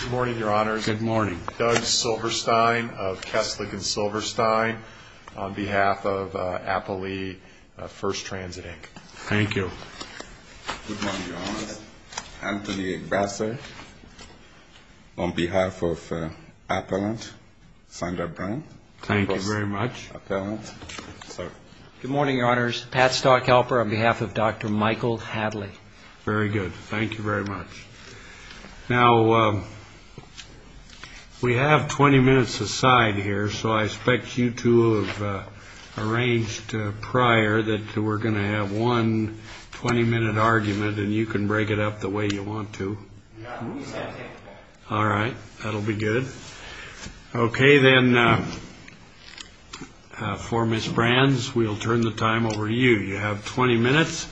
Good morning, Your Honors. Good morning. Doug Silverstein of Kesslick & Silverstein on behalf of Appalachian First Transit, Inc. Thank you. Good morning, Your Honors. Anthony Brasser on behalf of Appalachian Standard Brand. Thank you very much. Good morning, Your Honors. Pat Stockhelper on behalf of Dr. Michael Hadley. Very good. Thank you very much. Now, we have 20 minutes aside here, so I expect you two have arranged prior that we're going to have one 20-minute argument, and you can break it up the way you want to. All right. That'll be good. Okay, then, for Ms. Brands, we'll turn the time over to you. You have 20 minutes,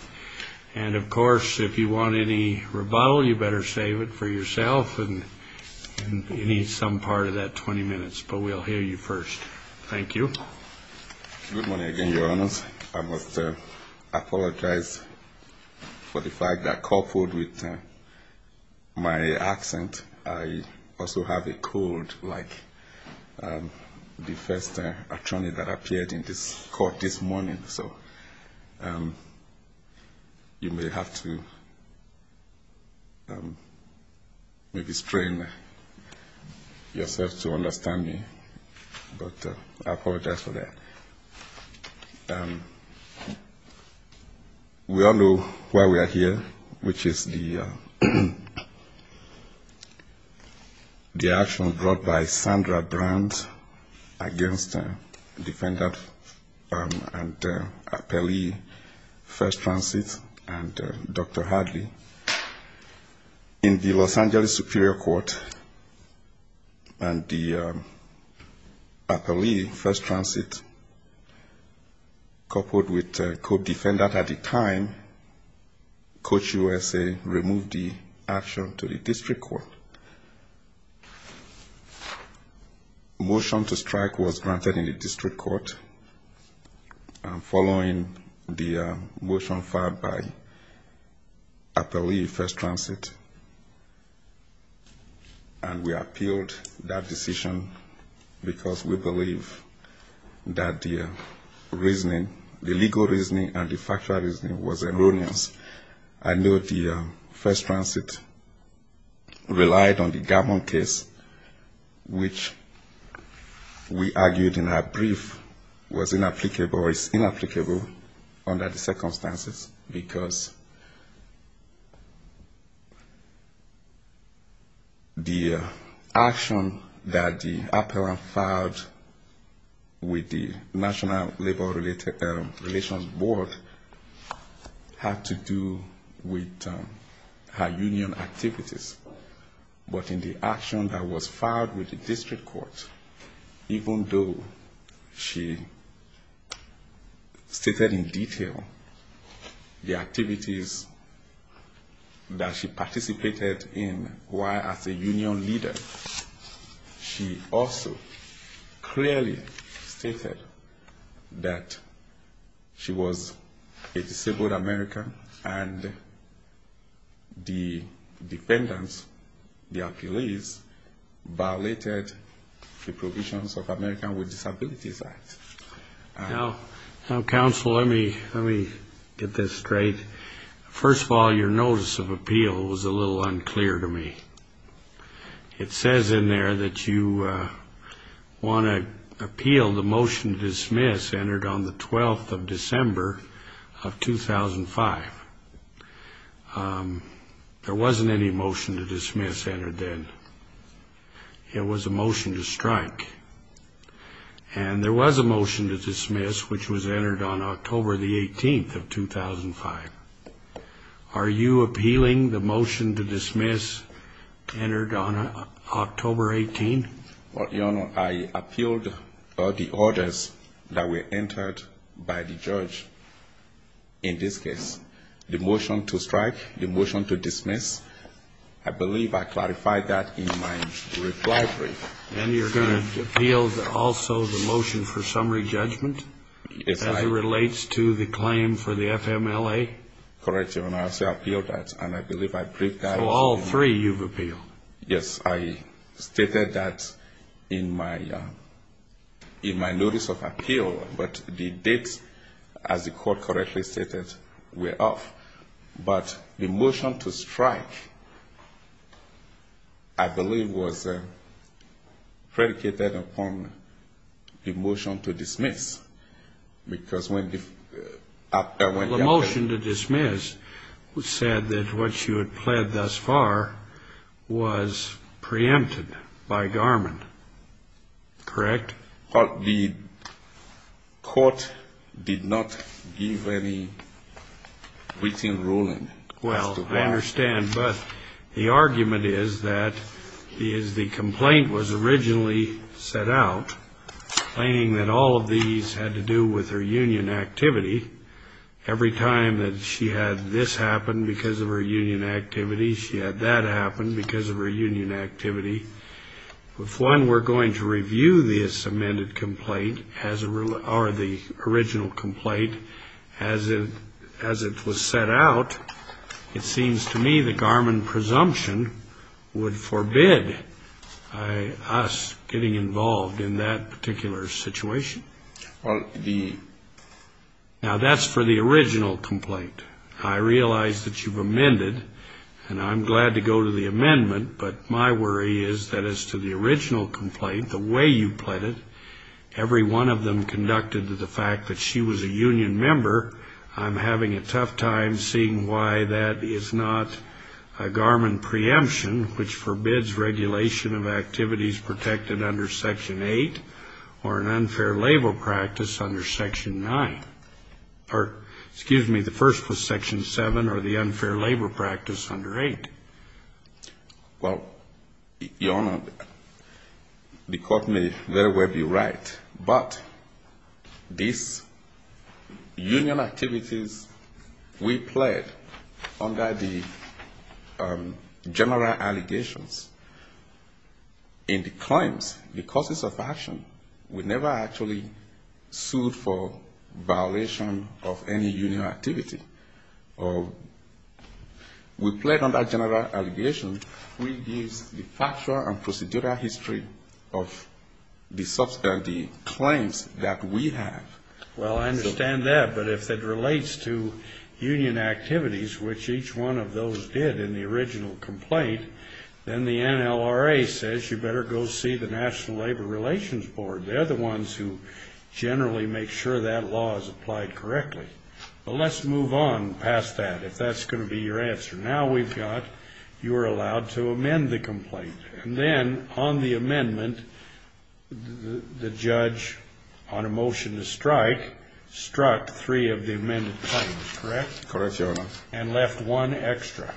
and, of course, if you want any rebuttal, you better save it for yourself. You need some part of that 20 minutes, but we'll hear you first. Thank you. Good morning again, Your Honors. I must apologize for the fact that coupled with my accent, I also have a cold like the first attorney that appeared in this court this morning. So you may have to maybe strain yourself to understand me, but I apologize for that. We all know why we are here, which is the action brought by Sandra Brands against Defendant and Appellee First Transit and Dr. Hadley. In the Los Angeles Superior Court and the Appellee First Transit, coupled with a co-defendant at the time, Coach USA removed the action to the district court. Motion to strike was granted in the district court following the motion filed by Appellee First Transit, and we appealed that decision because we believe that the reasoning, the legal reasoning and the factual reasoning was erroneous. I know the First Transit relied on the Garmon case, which we argued in our brief was inapplicable or is inapplicable under the circumstances, because the action that the appellant filed with the National Labor Relations Board had to do with her union activities. But in the action that was filed with the district court, even though she stated in detail the activities that she participated in while as a union leader, she also clearly stated that she was a disabled American and the defendants, the appellees, violated the provisions of the Americans with Disabilities Act. Now, counsel, let me get this straight. First of all, your notice of appeal was a little unclear to me. It says in there that you want to appeal the motion to dismiss entered on the 12th of December of 2005. There wasn't any motion to dismiss entered then. It was a motion to strike. And there was a motion to dismiss, which was entered on October the 18th of 2005. Are you appealing the motion to dismiss entered on October 18? Your Honor, I appealed the orders that were entered by the judge in this case. The motion to strike, the motion to dismiss, I believe I clarified that in my reply brief. And you're going to appeal also the motion for summary judgment as it relates to the claim for the FMLA? Correct, Your Honor. I said I appealed that, and I believe I briefed that. So all three you've appealed? Yes. I stated that in my notice of appeal, but the dates, as the court correctly stated, were off. But the motion to strike, I believe, was predicated upon the motion to dismiss, because when the... The motion to dismiss said that what you had pled thus far was preempted by Garmin. Correct? But the court did not give any written ruling as to that. I understand. But the argument is that the complaint was originally set out, claiming that all of these had to do with her union activity. Every time that she had this happen because of her union activity, she had that happen because of her union activity. If, one, we're going to review this amended complaint or the original complaint as it was set out, it seems to me that Garmin presumption would forbid us getting involved in that particular situation. Well, the... Now, that's for the original complaint. I realize that you've amended, and I'm glad to go to the amendment, but my worry is that as to the original complaint, the way you pled it, every one of them conducted to the fact that she was a union member, I'm having a tough time seeing why that is not a Garmin preemption, which forbids regulation of activities protected under Section 8 or an unfair labor practice under Section 9. Or, excuse me, the first was Section 7 or the unfair labor practice under 8. Well, Your Honor, the court may very well be right, but these union activities we pled under the general allegations in the claims, the causes of action, we never actually sued for violation of any union activity. We pled under general allegations. We use the factual and procedural history of the claims that we have. Well, I understand that, but if it relates to union activities, which each one of those did in the original complaint, then the NLRA says you better go see the National Labor Relations Board. They're the ones who generally make sure that law is applied correctly. Well, let's move on past that, if that's going to be your answer. Now we've got, you were allowed to amend the complaint, and then on the amendment, the judge on a motion to strike struck three of the amended claims, correct? Correct, Your Honor. And left one extra.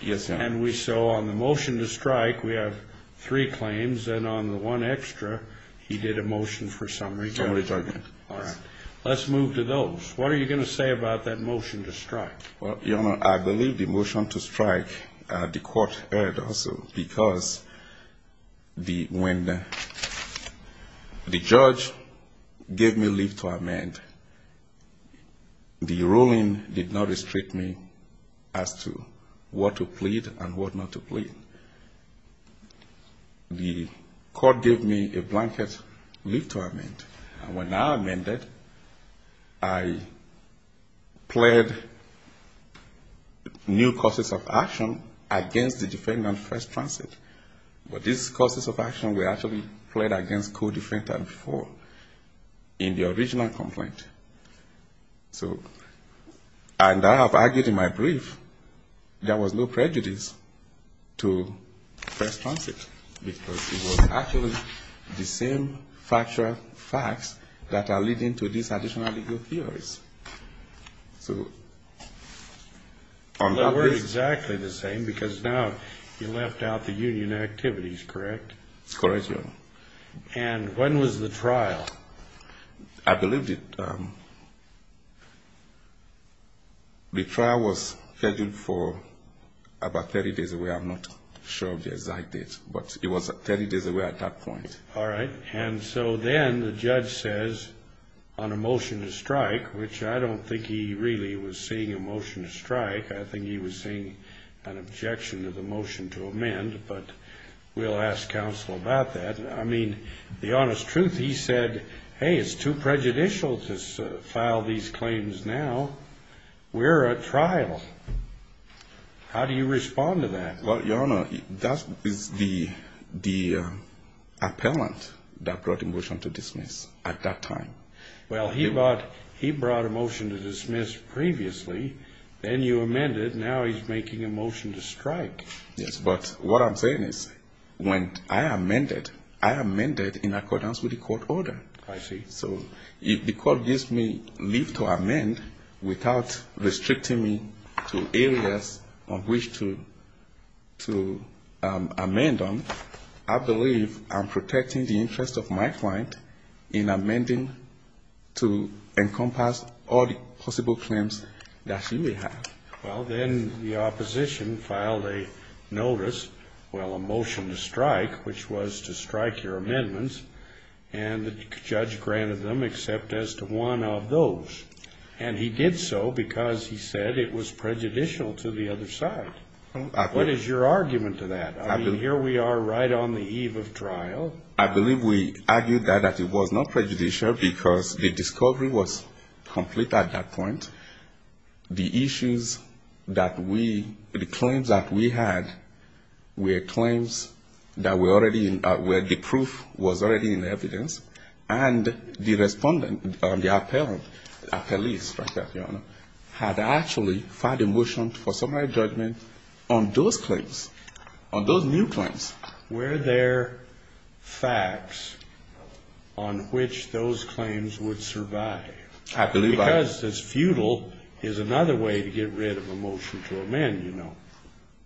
Yes, Your Honor. And we saw on the motion to strike, we have three claims, and on the one extra, he did a motion for summary judgment. Summary judgment. All right. Let's move to those. What are you going to say about that motion to strike? Well, Your Honor, I believe the motion to strike, the court heard also, because when the judge gave me leave to amend, the ruling did not restrict me as to what to plead and what not to plead. The court gave me a blanket leave to amend, and when I amended, I pled new causes of action against the defendant first transit. But these causes of action were actually pled against co-defendant four in the original complaint. So, and I have argued in my brief, there was no prejudice to first transit, because it was actually the same factual facts that are leading to these additional legal theories. So, on that basis. They were exactly the same, because now you left out the union activities, correct? Correct, Your Honor. And when was the trial? I believed it. The trial was scheduled for about 30 days away. I'm not sure of the exact date, but it was 30 days away at that point. All right. And so then the judge says on a motion to strike, which I don't think he really was seeing a motion to strike. I think he was seeing an objection to the motion to amend, but we'll ask counsel about that. I mean, the honest truth, he said, hey, it's too prejudicial to file these claims now. We're at trial. How do you respond to that? Well, Your Honor, that is the appellant that brought the motion to dismiss at that time. Well, he brought a motion to dismiss previously, then you amended, now he's making a motion to strike. Yes, but what I'm saying is when I amended, I amended in accordance with the court order. I see. So if the court gives me leave to amend without restricting me to areas on which to amend on, I believe I'm protecting the interest of my client in amending to encompass all the possible claims that she may have. Well, then the opposition filed a notice, well, a motion to strike, which was to strike your amendments, and the judge granted them except as to one of those. And he did so because he said it was prejudicial to the other side. What is your argument to that? I mean, here we are right on the eve of trial. Well, I believe we argued that it was not prejudicial because the discovery was complete at that point. The issues that we, the claims that we had were claims that were already, where the proof was already in evidence, and the respondent, the appellant, had actually filed a motion for summary judgment on those claims, on those new claims. Were there facts on which those claims would survive? I believe I... Because it's futile is another way to get rid of a motion to amend, you know.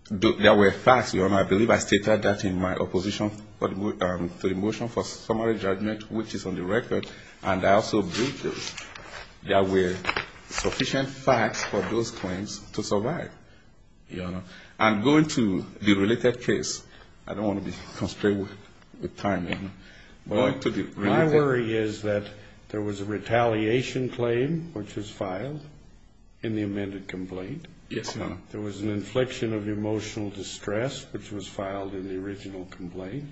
There were facts, Your Honor. I believe I stated that in my opposition to the motion for summary judgment, which is on the record, and I also believe that there were sufficient facts for those claims to survive. Your Honor. And going to the related case, I don't want to be constrained with time, Your Honor. My worry is that there was a retaliation claim which was filed in the amended complaint. Yes, Your Honor. There was an infliction of emotional distress which was filed in the original complaint.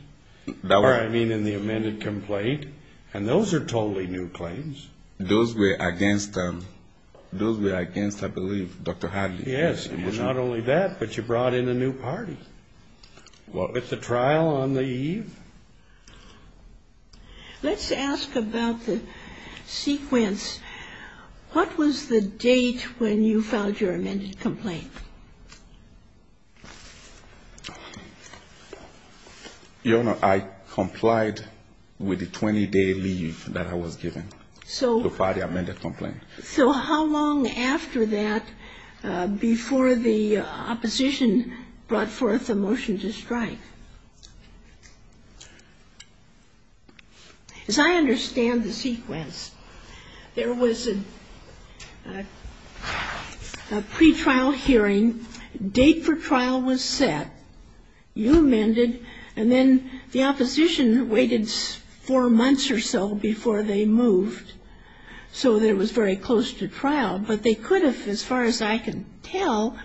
That was... Or, I mean, in the amended complaint, and those are totally new claims. Those were against them. Those were against, I believe, Dr. Hadley. Yes, and not only that, but you brought in a new party. Well, at the trial on the eve... Let's ask about the sequence. What was the date when you filed your amended complaint? Your Honor, I complied with the 20-day leave that I was given to file the amended complaint. So how long after that, before the opposition brought forth a motion to strike? As I understand the sequence, there was a pretrial hearing, date for trial was set, you amended, and then the opposition waited four months or so before they moved so that it was very close to trial. But they could have, as far as I can tell,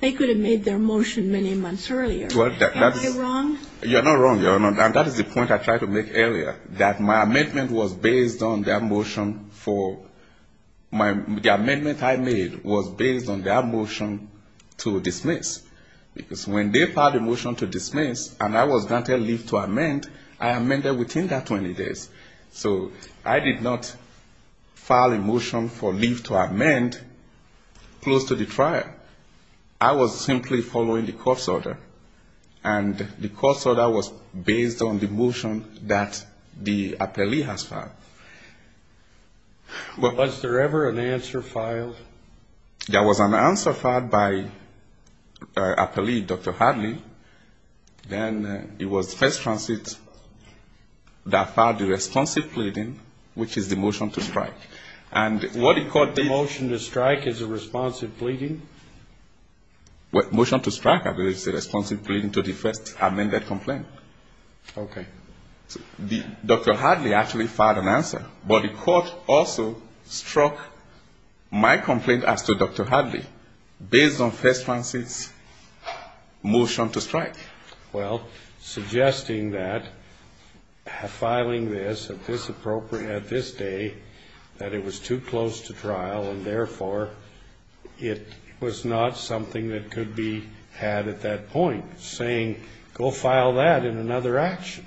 they could have made their motion many months earlier. Am I wrong? You're not wrong, Your Honor. And that is the point I tried to make earlier, that my amendment was based on their motion for... The amendment I made was based on their motion to dismiss. Because when they filed a motion to dismiss, and I was granted leave to amend, I amended within that 20 days. So I did not file a motion for leave to amend close to the trial. I was simply following the court's order. And the court's order was based on the motion that the appellee has filed. Was there ever an answer filed? There was an answer filed by the appellee, Dr. Hartley. Then it was first transit that filed the responsive pleading, which is the motion to strike. The motion to strike is a responsive pleading? Motion to strike, I believe, is a responsive pleading to the first amended complaint. Okay. Dr. Hartley actually filed an answer. But the court also struck my complaint as to Dr. Hartley based on first transit's motion to strike. Well, suggesting that filing this at this day, that it was too close to trial, and therefore it was not something that could be had at that point. Saying, go file that in another action.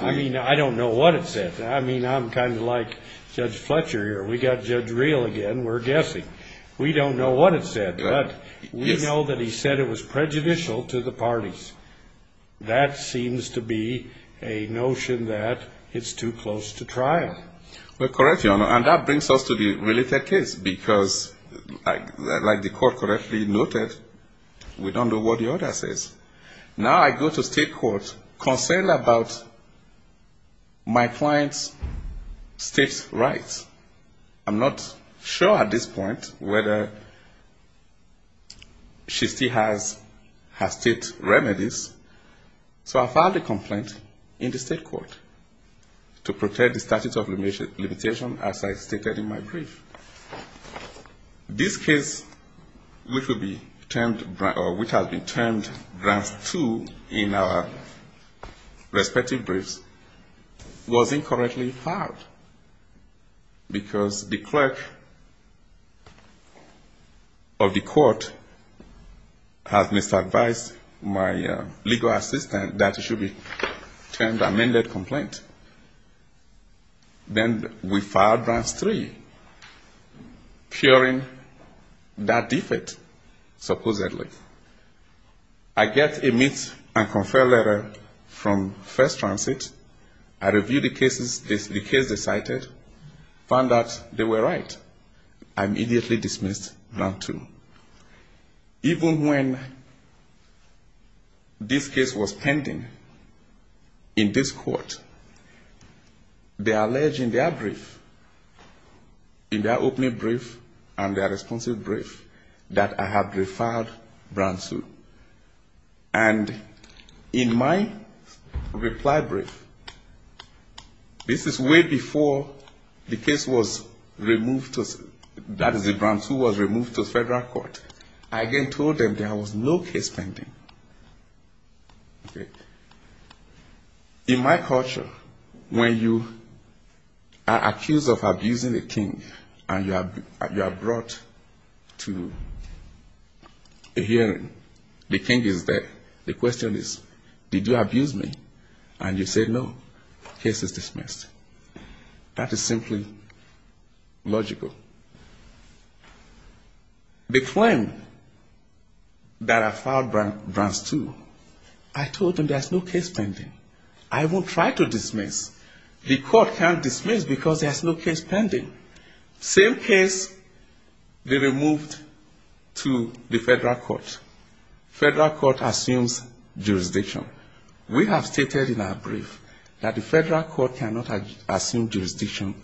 I mean, I don't know what it said. I mean, I'm kind of like Judge Fletcher here. We've got Judge Reel again. We're guessing. We don't know what it said. But we know that he said it was prejudicial to the parties. That seems to be a notion that it's too close to trial. Well, correct, Your Honor. And that brings us to the related case, because like the court correctly noted, we don't know what the order says. Now I go to state court concerned about my client's state's rights. I'm not sure at this point whether she still has her state's remedies. So I filed a complaint in the state court to protect the statute of limitation as I stated in my brief. This case, which has been termed Grants 2 in our respective briefs, wasn't correctly filed, because the clerk of the court has misadvised my legal assistant that it should be termed amended complaint. Then we filed Grants 3, curing that defeat, supposedly. I get a meet and confer letter from First Transit. I review the cases the case decided, found out they were right. I immediately dismissed Grant 2. Even when this case was pending in this court, they allege in their brief, in their opening brief and their responsive brief, that I had refiled Grant 2. And in my reply brief, this is way before the case was removed to federal court, I again told them there was no case pending. Okay. In my culture, when you are accused of abusing a king and you are brought to a hearing, the king is there, the question is, did you abuse me? And you say, no, case is dismissed. That is simply logical. The claim that I filed Grants 2, I told them there is no case pending. I won't try to dismiss. The court can't dismiss because there is no case pending. Same case, they removed to the federal court. Federal court assumes jurisdiction. We have stated in our brief that the federal court cannot assume jurisdiction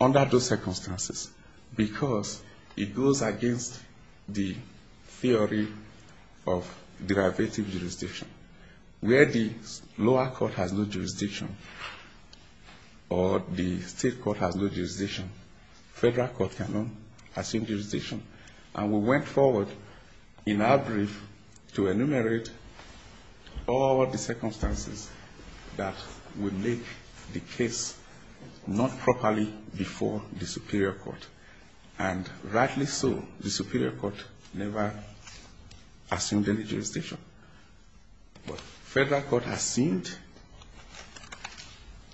under those circumstances, because it goes against the theory of derivative jurisdiction. Where the lower court has no jurisdiction, or the state court has no jurisdiction, federal court cannot assume jurisdiction. And we went forward in our brief to enumerate all of the circumstances that would make the case not properly before the superior court. And rightly so, the superior court never assumed any jurisdiction. But federal court assumed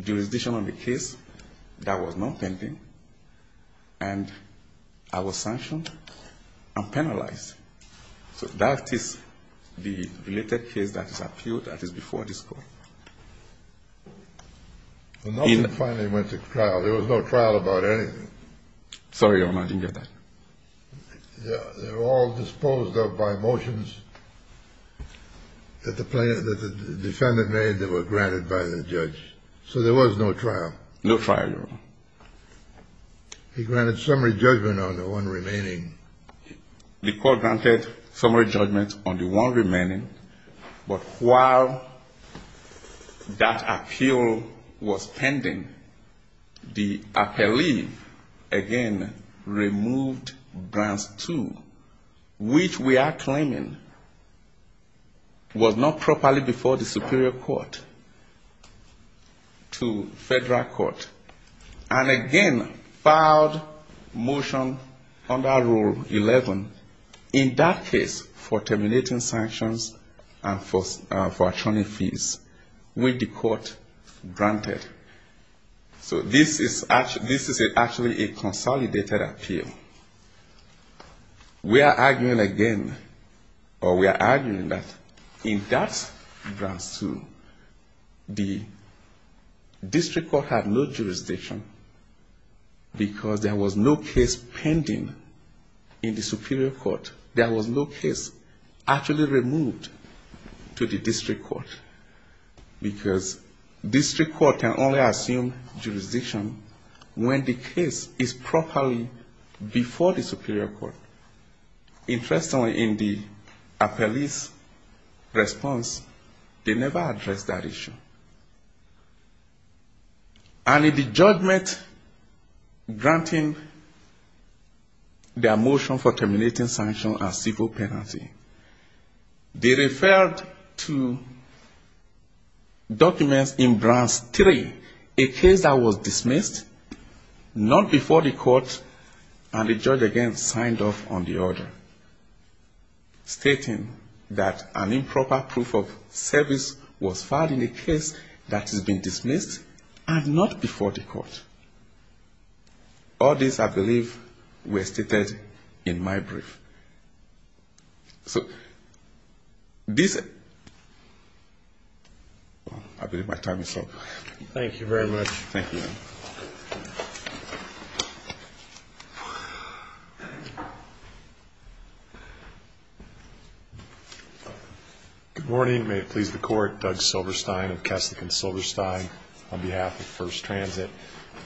jurisdiction on the case that was not pending, and I was sanctioned and penalized. So that is the related case that is before this court. Nothing finally went to trial. There was no trial about anything. Sorry, Your Honor, I didn't get that. They were all disposed of by motions that the defendant made that were granted by the judge. So there was no trial. No trial, Your Honor. He granted summary judgment on the one remaining. The court granted summary judgment on the one remaining. But while that appeal was pending, the appellee again removed Grants 2, which we are claiming was not properly before the superior court, to federal court. And again, filed motion under Rule 11, in that case, for terminating sanctions and for attorney fees, which the court granted. So this is actually a consolidated appeal. We are arguing again, or we are arguing that in that Grants 2, the district court had no jurisdiction, because there was no case pending in the superior court. There was no case actually removed to the district court. Because district court can only assume jurisdiction when the case is properly before the superior court. Interestingly, in the appellee's response, they never addressed that issue. And in the judgment granting their motion for terminating sanctions and civil penalty, they referred to documents in Grants 3, a case that was dismissed, not before the court, and the judge again signed off on the order, stating that an improper proof of service was filed in a case that has been dismissed and not before the court. All these, I believe, were stated in my brief. So this ---- I believe my time is up. Thank you very much. Thank you. Good morning. May it please the court, Doug Silverstein of Kessler & Silverstein on behalf of First Transit.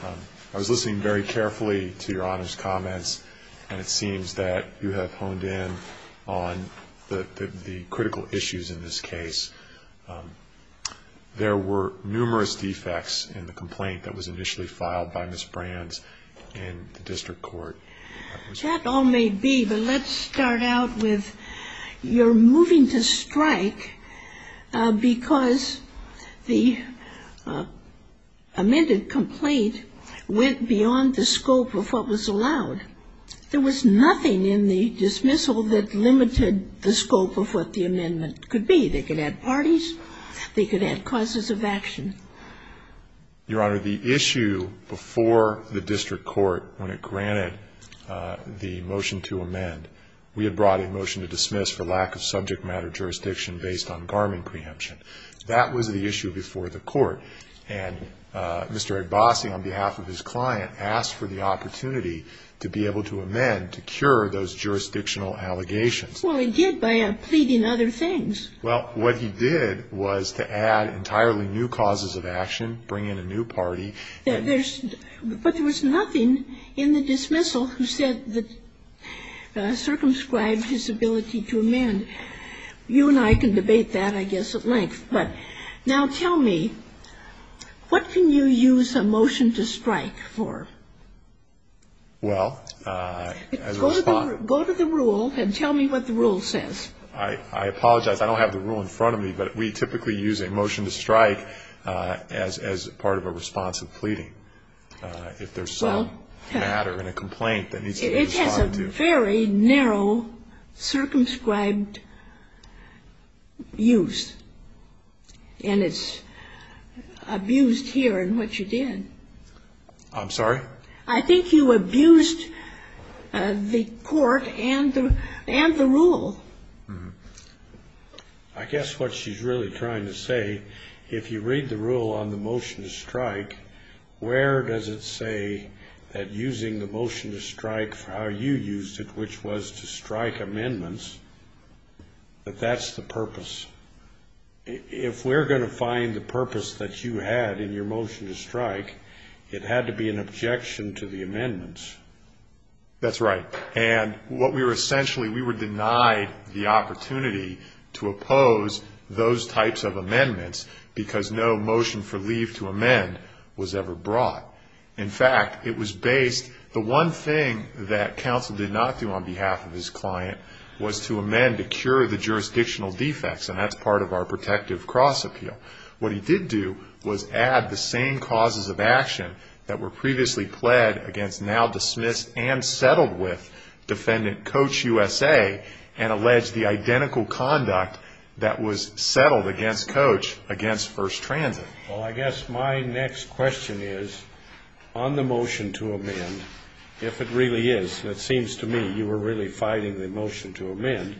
I was listening very carefully to Your Honor's comments, and it seems that you have honed in on the critical issues in this case. There were numerous defects in the complaint that was initially filed by Ms. Brands in the district court. That all may be, but let's start out with you're moving to strike because the amended complaint went beyond the scope of what was allowed. There was nothing in the dismissal that limited the scope of what the amendment could be. They could have parties. They could have causes of action. Your Honor, the issue before the district court when it granted the motion to amend, we had brought a motion to dismiss for lack of subject matter jurisdiction based on Garmin preemption. That was the issue before the court. And Mr. Agbasi on behalf of his client asked for the opportunity to be able to amend to cure those jurisdictional allegations. Well, he did by pleading other things. Well, what he did was to add entirely new causes of action, bring in a new party. There's ---- but there was nothing in the dismissal who said that circumscribed his ability to amend. You and I can debate that, I guess, at length. But now tell me, what can you use a motion to strike for? Well, as a response ---- Go to the rule and tell me what the rule says. I apologize. I don't have the rule in front of me, but we typically use a motion to strike as part of a response of pleading if there's some matter in a complaint that needs to be responded to. Well, it's a very narrow circumscribed use, and it's abused here in what you did. I'm sorry? I think you abused the court and the rule. I guess what she's really trying to say, if you read the rule on the motion to strike, where does it say that using the motion to strike for how you used it, which was to strike amendments, that that's the purpose? If we're going to find the purpose that you had in your motion to strike, it had to be an objection to the amendments. That's right. And what we were essentially ---- we were denied the opportunity to oppose those types of amendments because no motion for leave to amend was ever brought. In fact, it was based ---- the one thing that counsel did not do on behalf of his client was to amend to cure the jurisdictional defects, and that's part of our protective cross appeal. What he did do was add the same causes of action that were previously pled against now dismissed and settled with Defendant Coach USA and allege the identical conduct that was settled against Coach against First Transit. Well, I guess my next question is, on the motion to amend, if it really is, and it seems to me you were really fighting the motion to amend,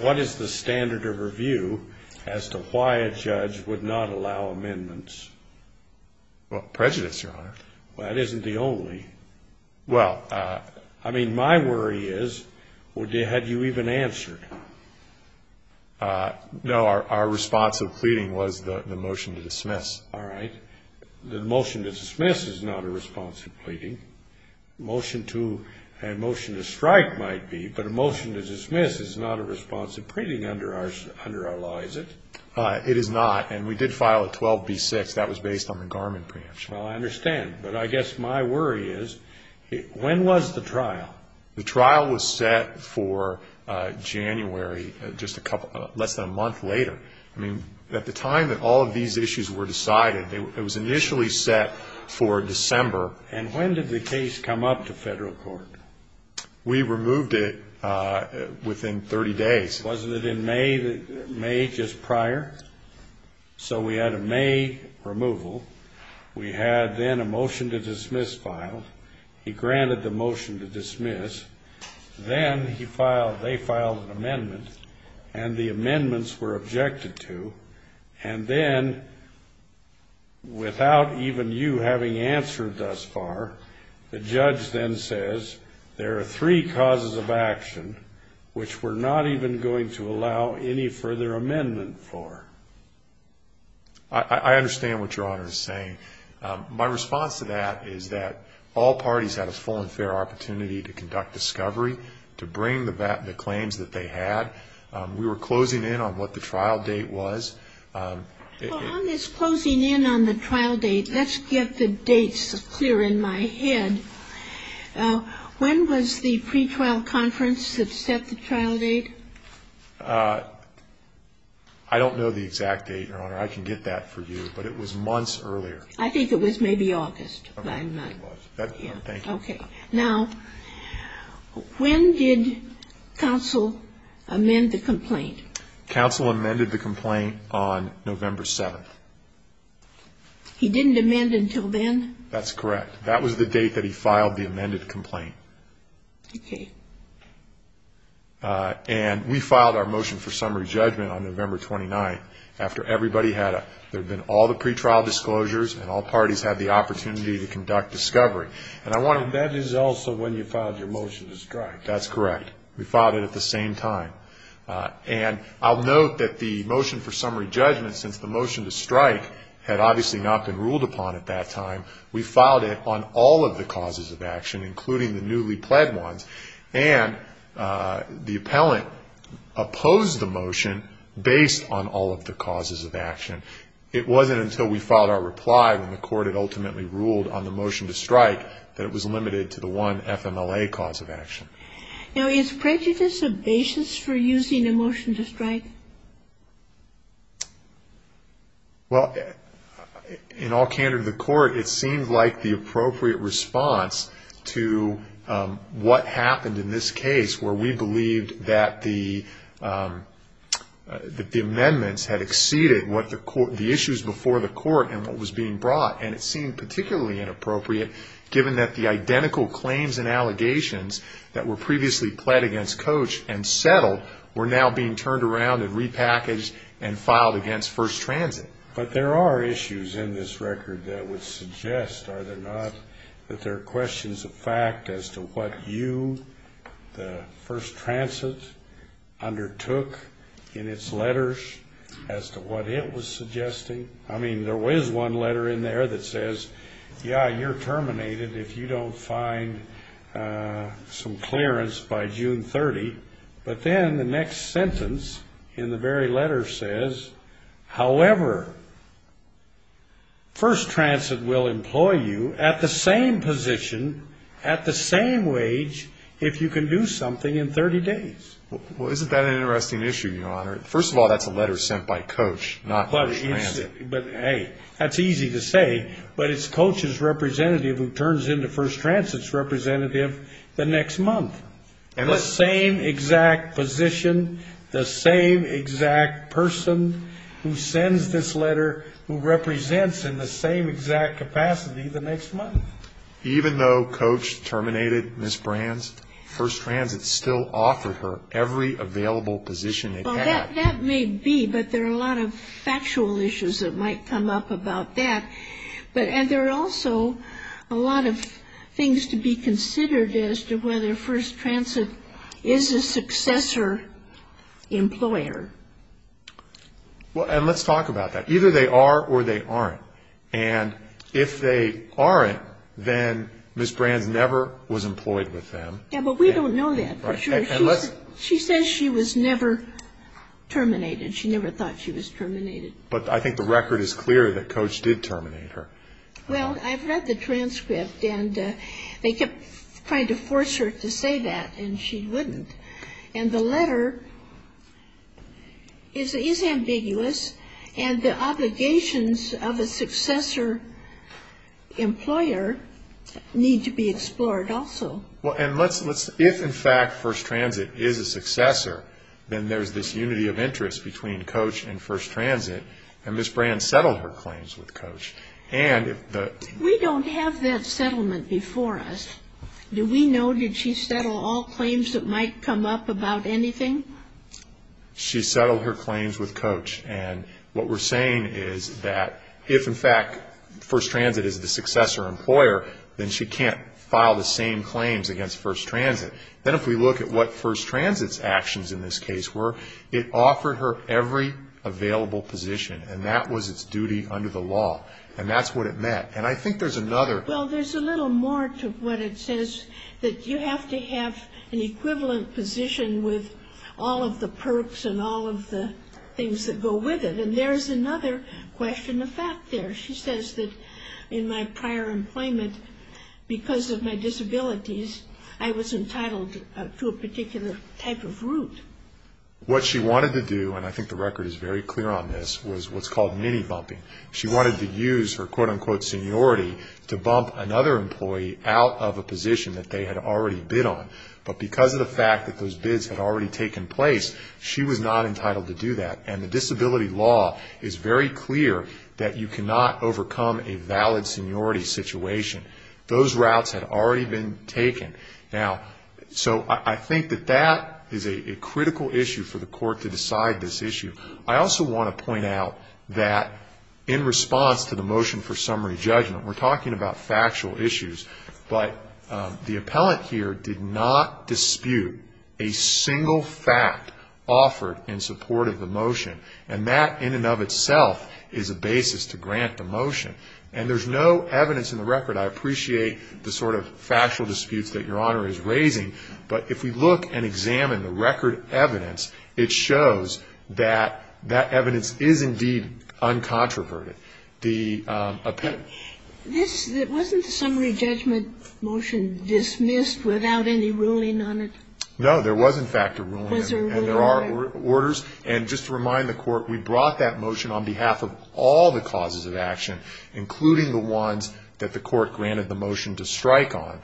what is the standard of review as to why a judge would not allow amendments? Well, prejudice, Your Honor. Well, that isn't the only. Well, I mean, my worry is, had you even answered? No, our response of pleading was the motion to dismiss. All right. The motion to dismiss is not a response to pleading. Motion to strike might be, but a motion to dismiss is not a response to pleading under our law, is it? It is not. And we did file a 12B6. That was based on the Garmin preemption. Well, I understand. But I guess my worry is, when was the trial? The trial was set for January, just a couple ---- less than a month later. I mean, at the time that all of these issues were decided, it was initially set for December. And when did the case come up to federal court? We removed it within 30 days. Wasn't it in May, just prior? So we had a May removal. We had then a motion to dismiss filed. He granted the motion to dismiss. Then they filed an amendment, and the amendments were objected to. And then, without even you having answered thus far, the judge then says, there are three causes of action which we're not even going to allow any further amendment for. I understand what Your Honor is saying. My response to that is that all parties had a full and fair opportunity to conduct discovery, to bring the claims that they had. We were closing in on what the trial date was. Well, on this closing in on the trial date, let's get the dates clear in my head. When was the pretrial conference that set the trial date? I don't know the exact date, Your Honor. I can get that for you. But it was months earlier. I think it was maybe August. Okay. Now, when did counsel amend the complaint? Counsel amended the complaint on November 7th. He didn't amend until then? That's correct. That was the date that he filed the amended complaint. Okay. And we filed our motion for summary judgment on November 29th, after everybody had a ‑‑ That is also when you filed your motion to strike. That's correct. We filed it at the same time. And I'll note that the motion for summary judgment, since the motion to strike had obviously not been ruled upon at that time, we filed it on all of the causes of action, including the newly pled ones. And the appellant opposed the motion based on all of the causes of action. It wasn't until we filed our reply, when the court had ultimately ruled on the motion to strike, that it was limited to the one FMLA cause of action. Now, is prejudice a basis for using a motion to strike? Well, in all candor to the court, it seemed like the appropriate response to what happened in this case, where we believed that the amendments had exceeded the issues before the court and what was being brought. And it seemed particularly inappropriate, given that the identical claims and allegations that were previously pled against Coach and settled, were now being turned around and repackaged and filed against First Transit. But there are issues in this record that would suggest, are there not, that there are questions of fact as to what you, the First Transit, undertook in its letters, as to what it was suggesting. I mean, there was one letter in there that says, yeah, you're terminated if you don't find some clearance by June 30. But then the next sentence in the very letter says, however, First Transit will employ you at the same position, at the same wage, if you can do something in 30 days. Well, isn't that an interesting issue, Your Honor? First of all, that's a letter sent by Coach, not First Transit. But, hey, that's easy to say, but it's Coach's representative who turns into First Transit's representative the next month. The same exact position, the same exact person who sends this letter, who represents in the same exact capacity the next month. Even though Coach terminated Ms. Brands, First Transit still offered her every available position it had. Well, that may be, but there are a lot of factual issues that might come up about that. And there are also a lot of things to be considered as to whether First Transit is a successor employer. And let's talk about that. Either they are or they aren't. And if they aren't, then Ms. Brands never was employed with them. Yeah, but we don't know that for sure. She says she was never terminated. She never thought she was terminated. But I think the record is clear that Coach did terminate her. Well, I've read the transcript, and they kept trying to force her to say that, and she wouldn't. And the letter is ambiguous, and the obligations of a successor employer need to be explored also. Well, and let's, if in fact First Transit is a successor, then there's this unity of interest between Coach and First Transit, and Ms. Brands settled her claims with Coach. We don't have that settlement before us. Do we know, did she settle all claims that might come up about anything? She settled her claims with Coach, and what we're saying is that if in fact First Transit is the successor employer, then she can't file the same claims against First Transit. Then if we look at what First Transit's actions in this case were, it offered her every available position, and that was its duty under the law, and that's what it meant. And I think there's another... Well, there's a little more to what it says, that you have to have an equivalent position with all of the perks and all of the things that go with it, and there's another question of fact there. She says that in my prior employment, because of my disabilities, I was entitled to a particular type of route. What she wanted to do, and I think the record is very clear on this, was what's called mini-bumping. She wanted to use her quote-unquote seniority to bump another employee out of a position that they had already bid on, but because of the fact that those bids had already taken place, she was not entitled to do that, and the disability law is very clear that you cannot overcome a valid seniority situation. Those routes had already been taken. Now, so I think that that is a critical issue for the court to decide this issue. I also want to point out that in response to the motion for summary judgment, we're talking about factual issues, but the appellant here did not dispute a single fact offered in support of the motion. And that in and of itself is a basis to grant the motion, and there's no evidence in the record. I appreciate the sort of factual disputes that Your Honor is raising, but if we look and examine the record evidence, it shows that that evidence is indeed uncontroverted. The appellant. This, wasn't the summary judgment motion dismissed without any ruling on it? No. There was, in fact, a ruling on it. Was there a ruling? There were orders, and just to remind the court, we brought that motion on behalf of all the causes of action, including the ones that the court granted the motion to strike on.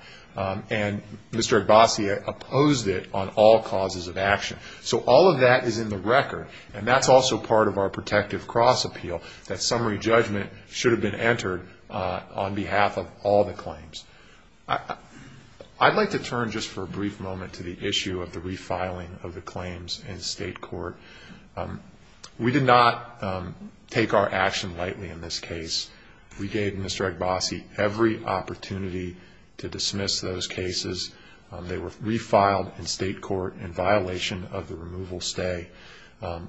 And Mr. Abbasi opposed it on all causes of action. So all of that is in the record, and that's also part of our protective cross appeal, that summary judgment should have been entered on behalf of all the claims. I'd like to turn just for a brief moment to the issue of the refiling of the claims in state court. We did not take our action lightly in this case. We gave Mr. Abbasi every opportunity to dismiss those cases. They were refiled in state court in violation of the removal stay.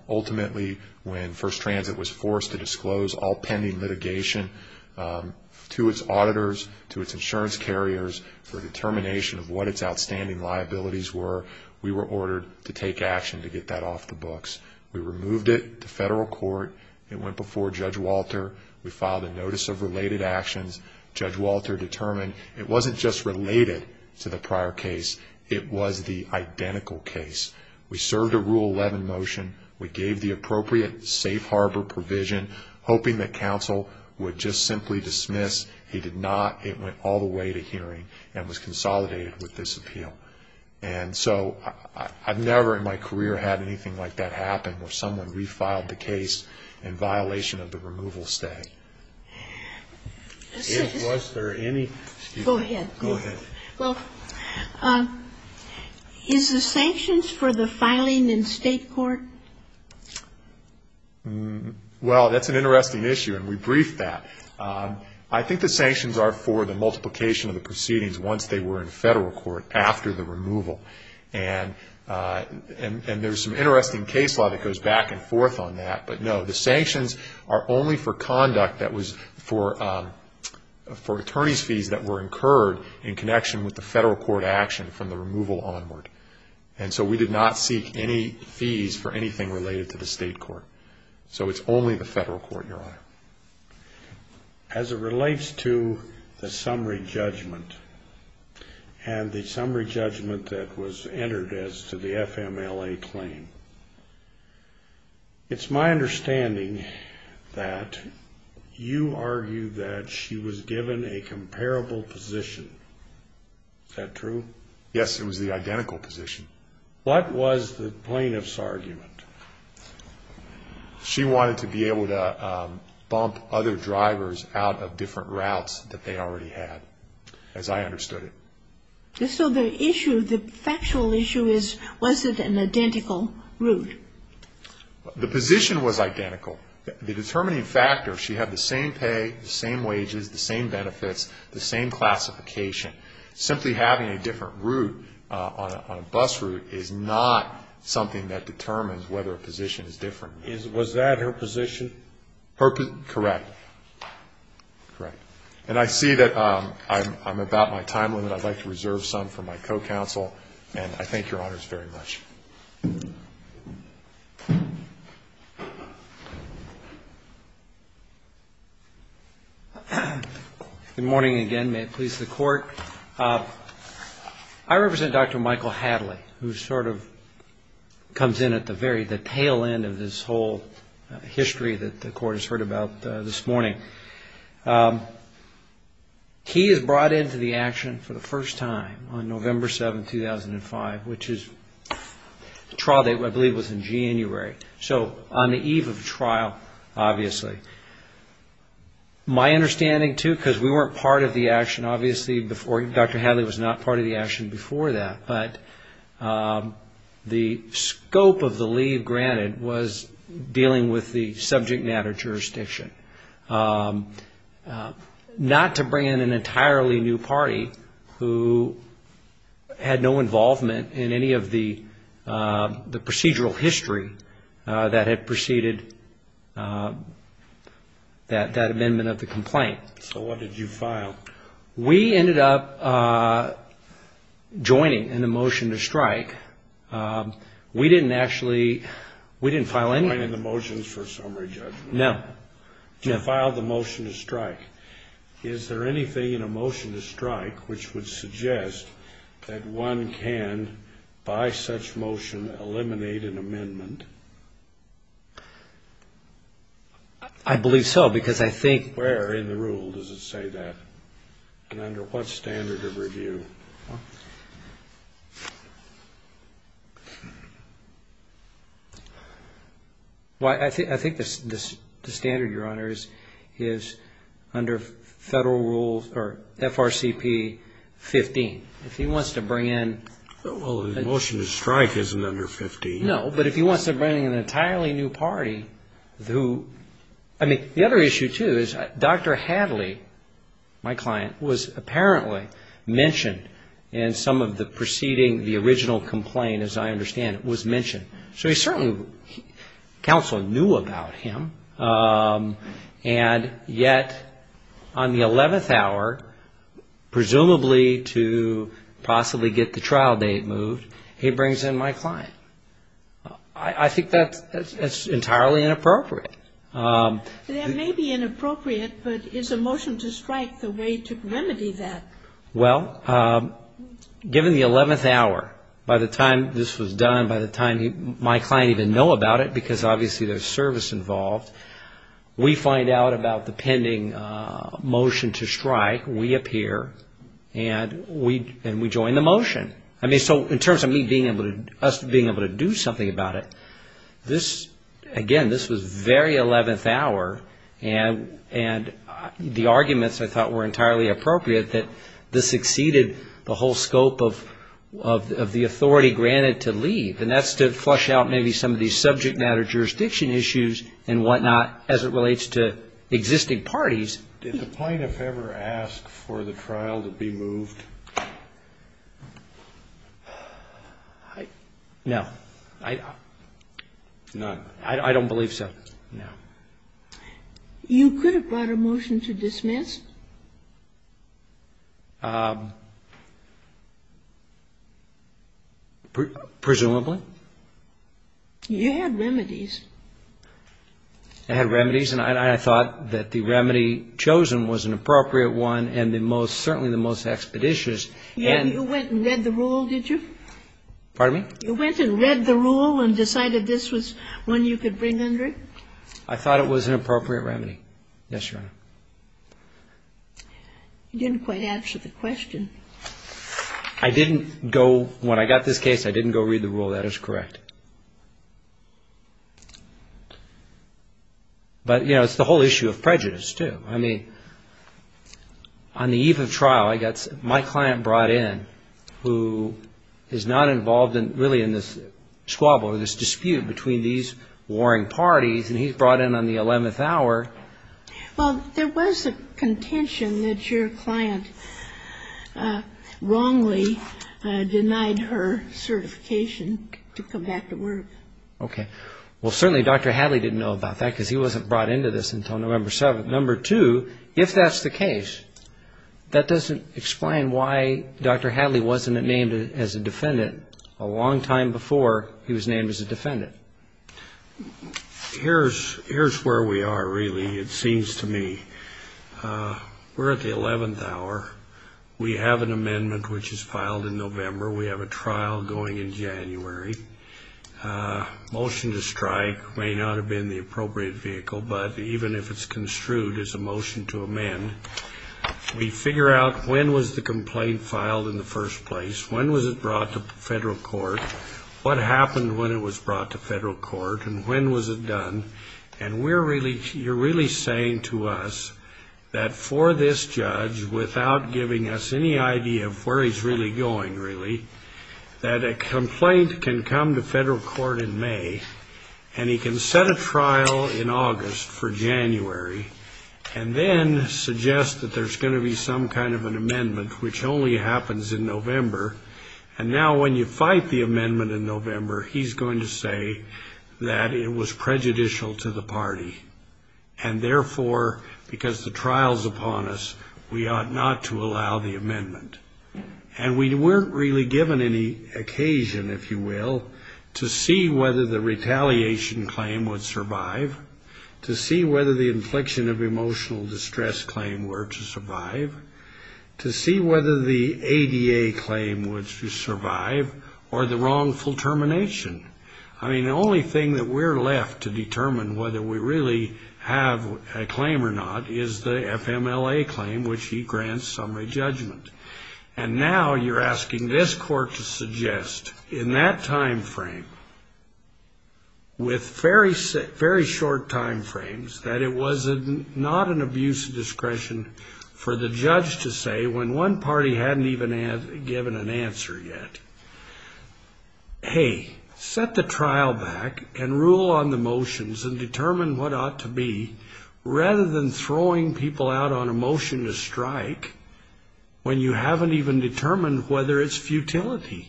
Ultimately, when First Transit was forced to disclose all pending litigation to its auditors, to its insurance carriers for determination of what its outstanding liabilities were, we were ordered to take action to get that off the books. We removed it to federal court. It went before Judge Walter. We filed a notice of related actions. Judge Walter determined it wasn't just related to the prior case. It was the identical case. We served a Rule 11 motion. We gave the appropriate safe harbor provision, hoping that counsel would just simply dismiss. He did not. It went all the way to hearing and was consolidated with this appeal. And so I've never in my career had anything like that happen, where someone refiled the case in violation of the removal stay. If was there any... Go ahead. Go ahead. Well, is the sanctions for the filing in state court? Well, that's an interesting issue, and we briefed that. I think the sanctions are for the multiplication of the proceedings once they were in federal court after the removal. And there's some interesting case law that goes back and forth on that. But no, the sanctions are only for conduct that was for attorney's fees that were incurred in connection with the federal court action from the removal onward. And so we did not seek any fees for anything related to the state court. So it's only the federal court, Your Honor. As it relates to the summary judgment, and the summary judgment that was entered as to the FMLA claim, it's my understanding that you argue that she was given a comparable position. Is that true? Yes, it was the identical position. What was the plaintiff's argument? She wanted to be able to bump other drivers out of different routes that they already had, as I understood it. So the issue, the factual issue is, was it an identical route? The position was identical. The determining factor, she had the same pay, the same wages, the same benefits, the same classification. Simply having a different route on a bus route is not something that determines whether a position is different. Was that her position? Correct. Correct. And I see that I'm about my time limit. I'd like to reserve some for my co-counsel. And I thank Your Honors very much. Good morning again. May it please the Court. I represent Dr. Michael Hadley, who sort of comes in at the very, the tail end of this whole history that the Court has heard about this morning. He is brought into the action for the first time on November 7, 2005, which is the trial date, I believe, was in January. So on the eve of the trial, obviously. My understanding, too, because we weren't part of the action, obviously, before, Dr. Hadley was not part of the action before that. But the scope of the leave granted was dealing with the subject matter jurisdiction. Not to bring in an entirely new party who had no involvement in any of the procedural history that had preceded that amendment of the complaint. So what did you file? We ended up joining in the motion to strike. We didn't actually, we didn't file any. Joining the motions for summary judgment. No. You filed the motion to strike. Is there anything in a motion to strike which would suggest that one can, by such motion, eliminate an amendment? I believe so, because I think. Where in the rule does it say that? And under what standard of review? Well, I think the standard, Your Honor, is under federal rules, or FRCP 15. If he wants to bring in. Well, the motion to strike isn't under 15. No, but if he wants to bring in an entirely new party who. I mean, the other issue, too, is Dr. Hadley, my client, was apparently mentioned in some of the preceding, the original complaint, as I understand it, was mentioned. So he certainly, counsel knew about him. And yet, on the 11th hour, presumably to possibly get the trial date moved, he brings in my client. I think that's entirely inappropriate. That may be inappropriate, but is a motion to strike the way to remedy that? Well, given the 11th hour, by the time this was done, by the time my client even know about it, because obviously there's service involved, we find out about the pending motion to strike. We appear, and we join the motion. I mean, so in terms of me being able to, us being able to do something about it, this, again, this was very 11th hour. And the arguments, I thought, were entirely appropriate, that this exceeded the whole scope of the authority granted to leave. And that's to flush out maybe some of these subject matter jurisdiction issues and whatnot as it relates to existing parties. Did the plaintiff ever ask for the trial to be moved? No. I don't believe so, no. You could have brought a motion to dismiss? Presumably. You had remedies. I had remedies, and I thought that the remedy chosen was an appropriate one and the most, certainly the most expeditious. And you went and read the rule, did you? Pardon me? You went and read the rule and decided this was one you could bring under it? I thought it was an appropriate remedy. Yes, Your Honor. You didn't quite answer the question. I didn't go, when I got this case, I didn't go read the rule. That is correct. But, you know, it's the whole issue of prejudice, too. I mean, on the eve of trial, my client brought in, who is not involved really in this squabble or this dispute between these warring parties, and he's brought in on the 11th hour. Well, there was a contention that your client wrongly denied her certification to come back to work. Okay. Well, certainly Dr. Hadley didn't know about that because he wasn't brought into this until November 7th. Number two, if that's the case, that doesn't explain why Dr. Hadley wasn't named as a defendant a long time before he was named as a defendant. Here's where we are, really, it seems to me. We're at the 11th hour. We have an amendment which is filed in November. We have a trial going in January. Motion to strike may not have been the appropriate vehicle, but even if it's construed as a motion to amend, we figure out when was the complaint filed in the first place, when was it brought to federal court, what happened when it was brought to federal court, and when was it done. And you're really saying to us that for this judge, without giving us any idea of where he's really going, really, that a complaint can come to federal court in May, and he can set a trial in August for January, and then suggest that there's going to be some kind of an amendment, which only happens in November, and now when you fight the amendment in November, he's going to say that it was prejudicial to the party, and therefore, because the trial's upon us, we ought not to allow the amendment. And we weren't really given any occasion, if you will, to see whether the retaliation claim would survive, to see whether the infliction of emotional distress claim were to survive, to see whether the ADA claim would survive, or the wrongful termination. I mean, the only thing that we're left to determine whether we really have a claim or not is the FMLA claim, which he grants summary judgment. And now you're asking this court to suggest, in that time frame, with very short time frames, that it was not an abuse of discretion for the judge to say, when one party hadn't even given an answer yet, hey, set the trial back, and rule on the motions, and determine what ought to be, rather than throwing people out on a motion to strike when you haven't even determined whether it's futility.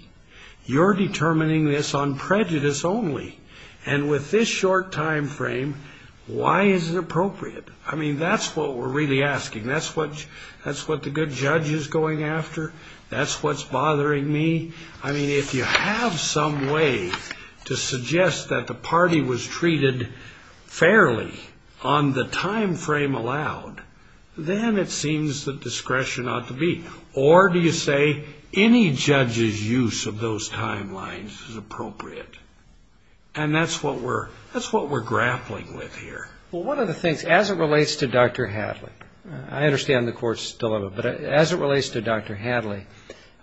You're determining this on prejudice only. And with this short time frame, why is it appropriate? I mean, that's what we're really asking. That's what the good judge is going after. That's what's bothering me. I mean, if you have some way to suggest that the party was treated fairly on the time frame allowed, then it seems that discretion ought to be. Or do you say any judge's use of those timelines is appropriate? And that's what we're grappling with here. Well, one of the things, as it relates to Dr. Hadley, I understand the court's dilemma, but as it relates to Dr. Hadley,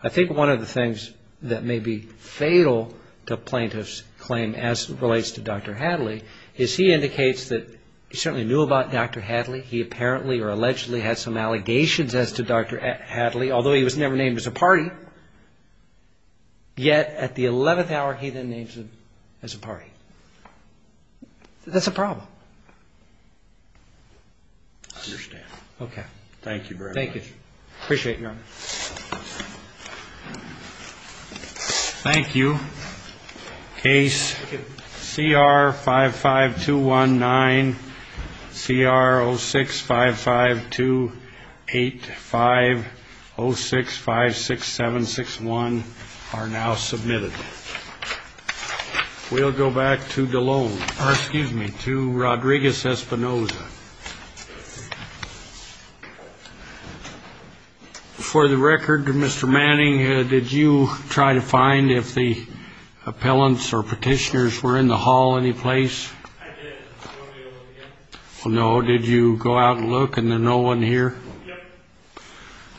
I think one of the things that may be fatal to plaintiff's claim, as it relates to Dr. Hadley, is he indicates that he certainly knew about Dr. Hadley. He apparently or allegedly had some allegations as to Dr. Hadley, although he was never named as a party. Yet, at the 11th hour, he then names him as a party. That's a problem. I understand. Okay. Thank you very much. Thank you. Appreciate it, Your Honor. Thank you. Case CR-55219, CR-06552850656761 are now submitted. We'll go back to Rodriguez-Espinosa. For the record, Mr. Manning, did you try to find if the appellants or petitioners were in the hall any place? I did. Well, no. Did you go out and look and there's no one here? Yep.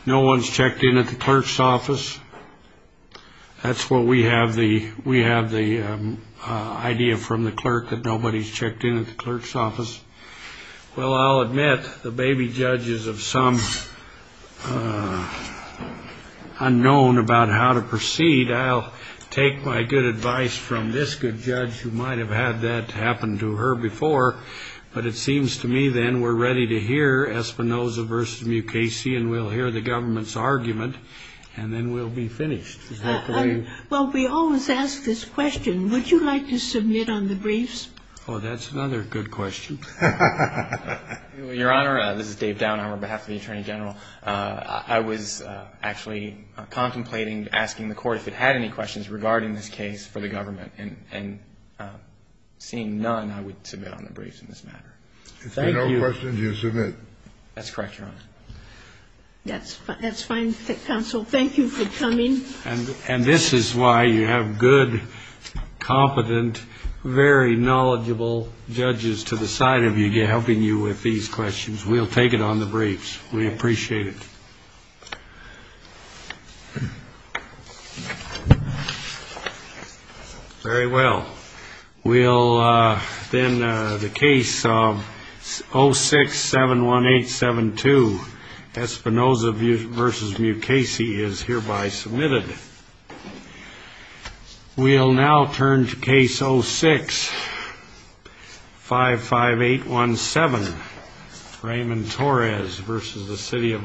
No one's checked in at the clerk's office? That's what we have. We have the idea from the clerk that nobody's checked in at the clerk's office. Well, I'll admit, the baby judge is of some unknown about how to proceed. I'll take my good advice from this good judge who might have had that happen to her before, but it seems to me then we're ready to hear Espinoza v. Mukasey, and we'll hear the government's argument, and then we'll be finished. Well, we always ask this question. Would you like to submit on the briefs? Oh, that's another good question. Your Honor, this is Dave Downer on behalf of the Attorney General. I was actually contemplating asking the Court if it had any questions regarding this case for the government, and seeing none, I would submit on the briefs in this matter. If there are no questions, you submit. That's correct, Your Honor. That's fine, Counsel. Thank you for coming. And this is why you have good, competent, very knowledgeable judges to the side of you, helping you with these questions. We'll take it on the briefs. We appreciate it. Very well. Then the case of 06-71872, Espinoza v. Mukasey is hereby submitted. We'll now turn to case 06-55817, Raymond Torres v. the City of Los Angeles.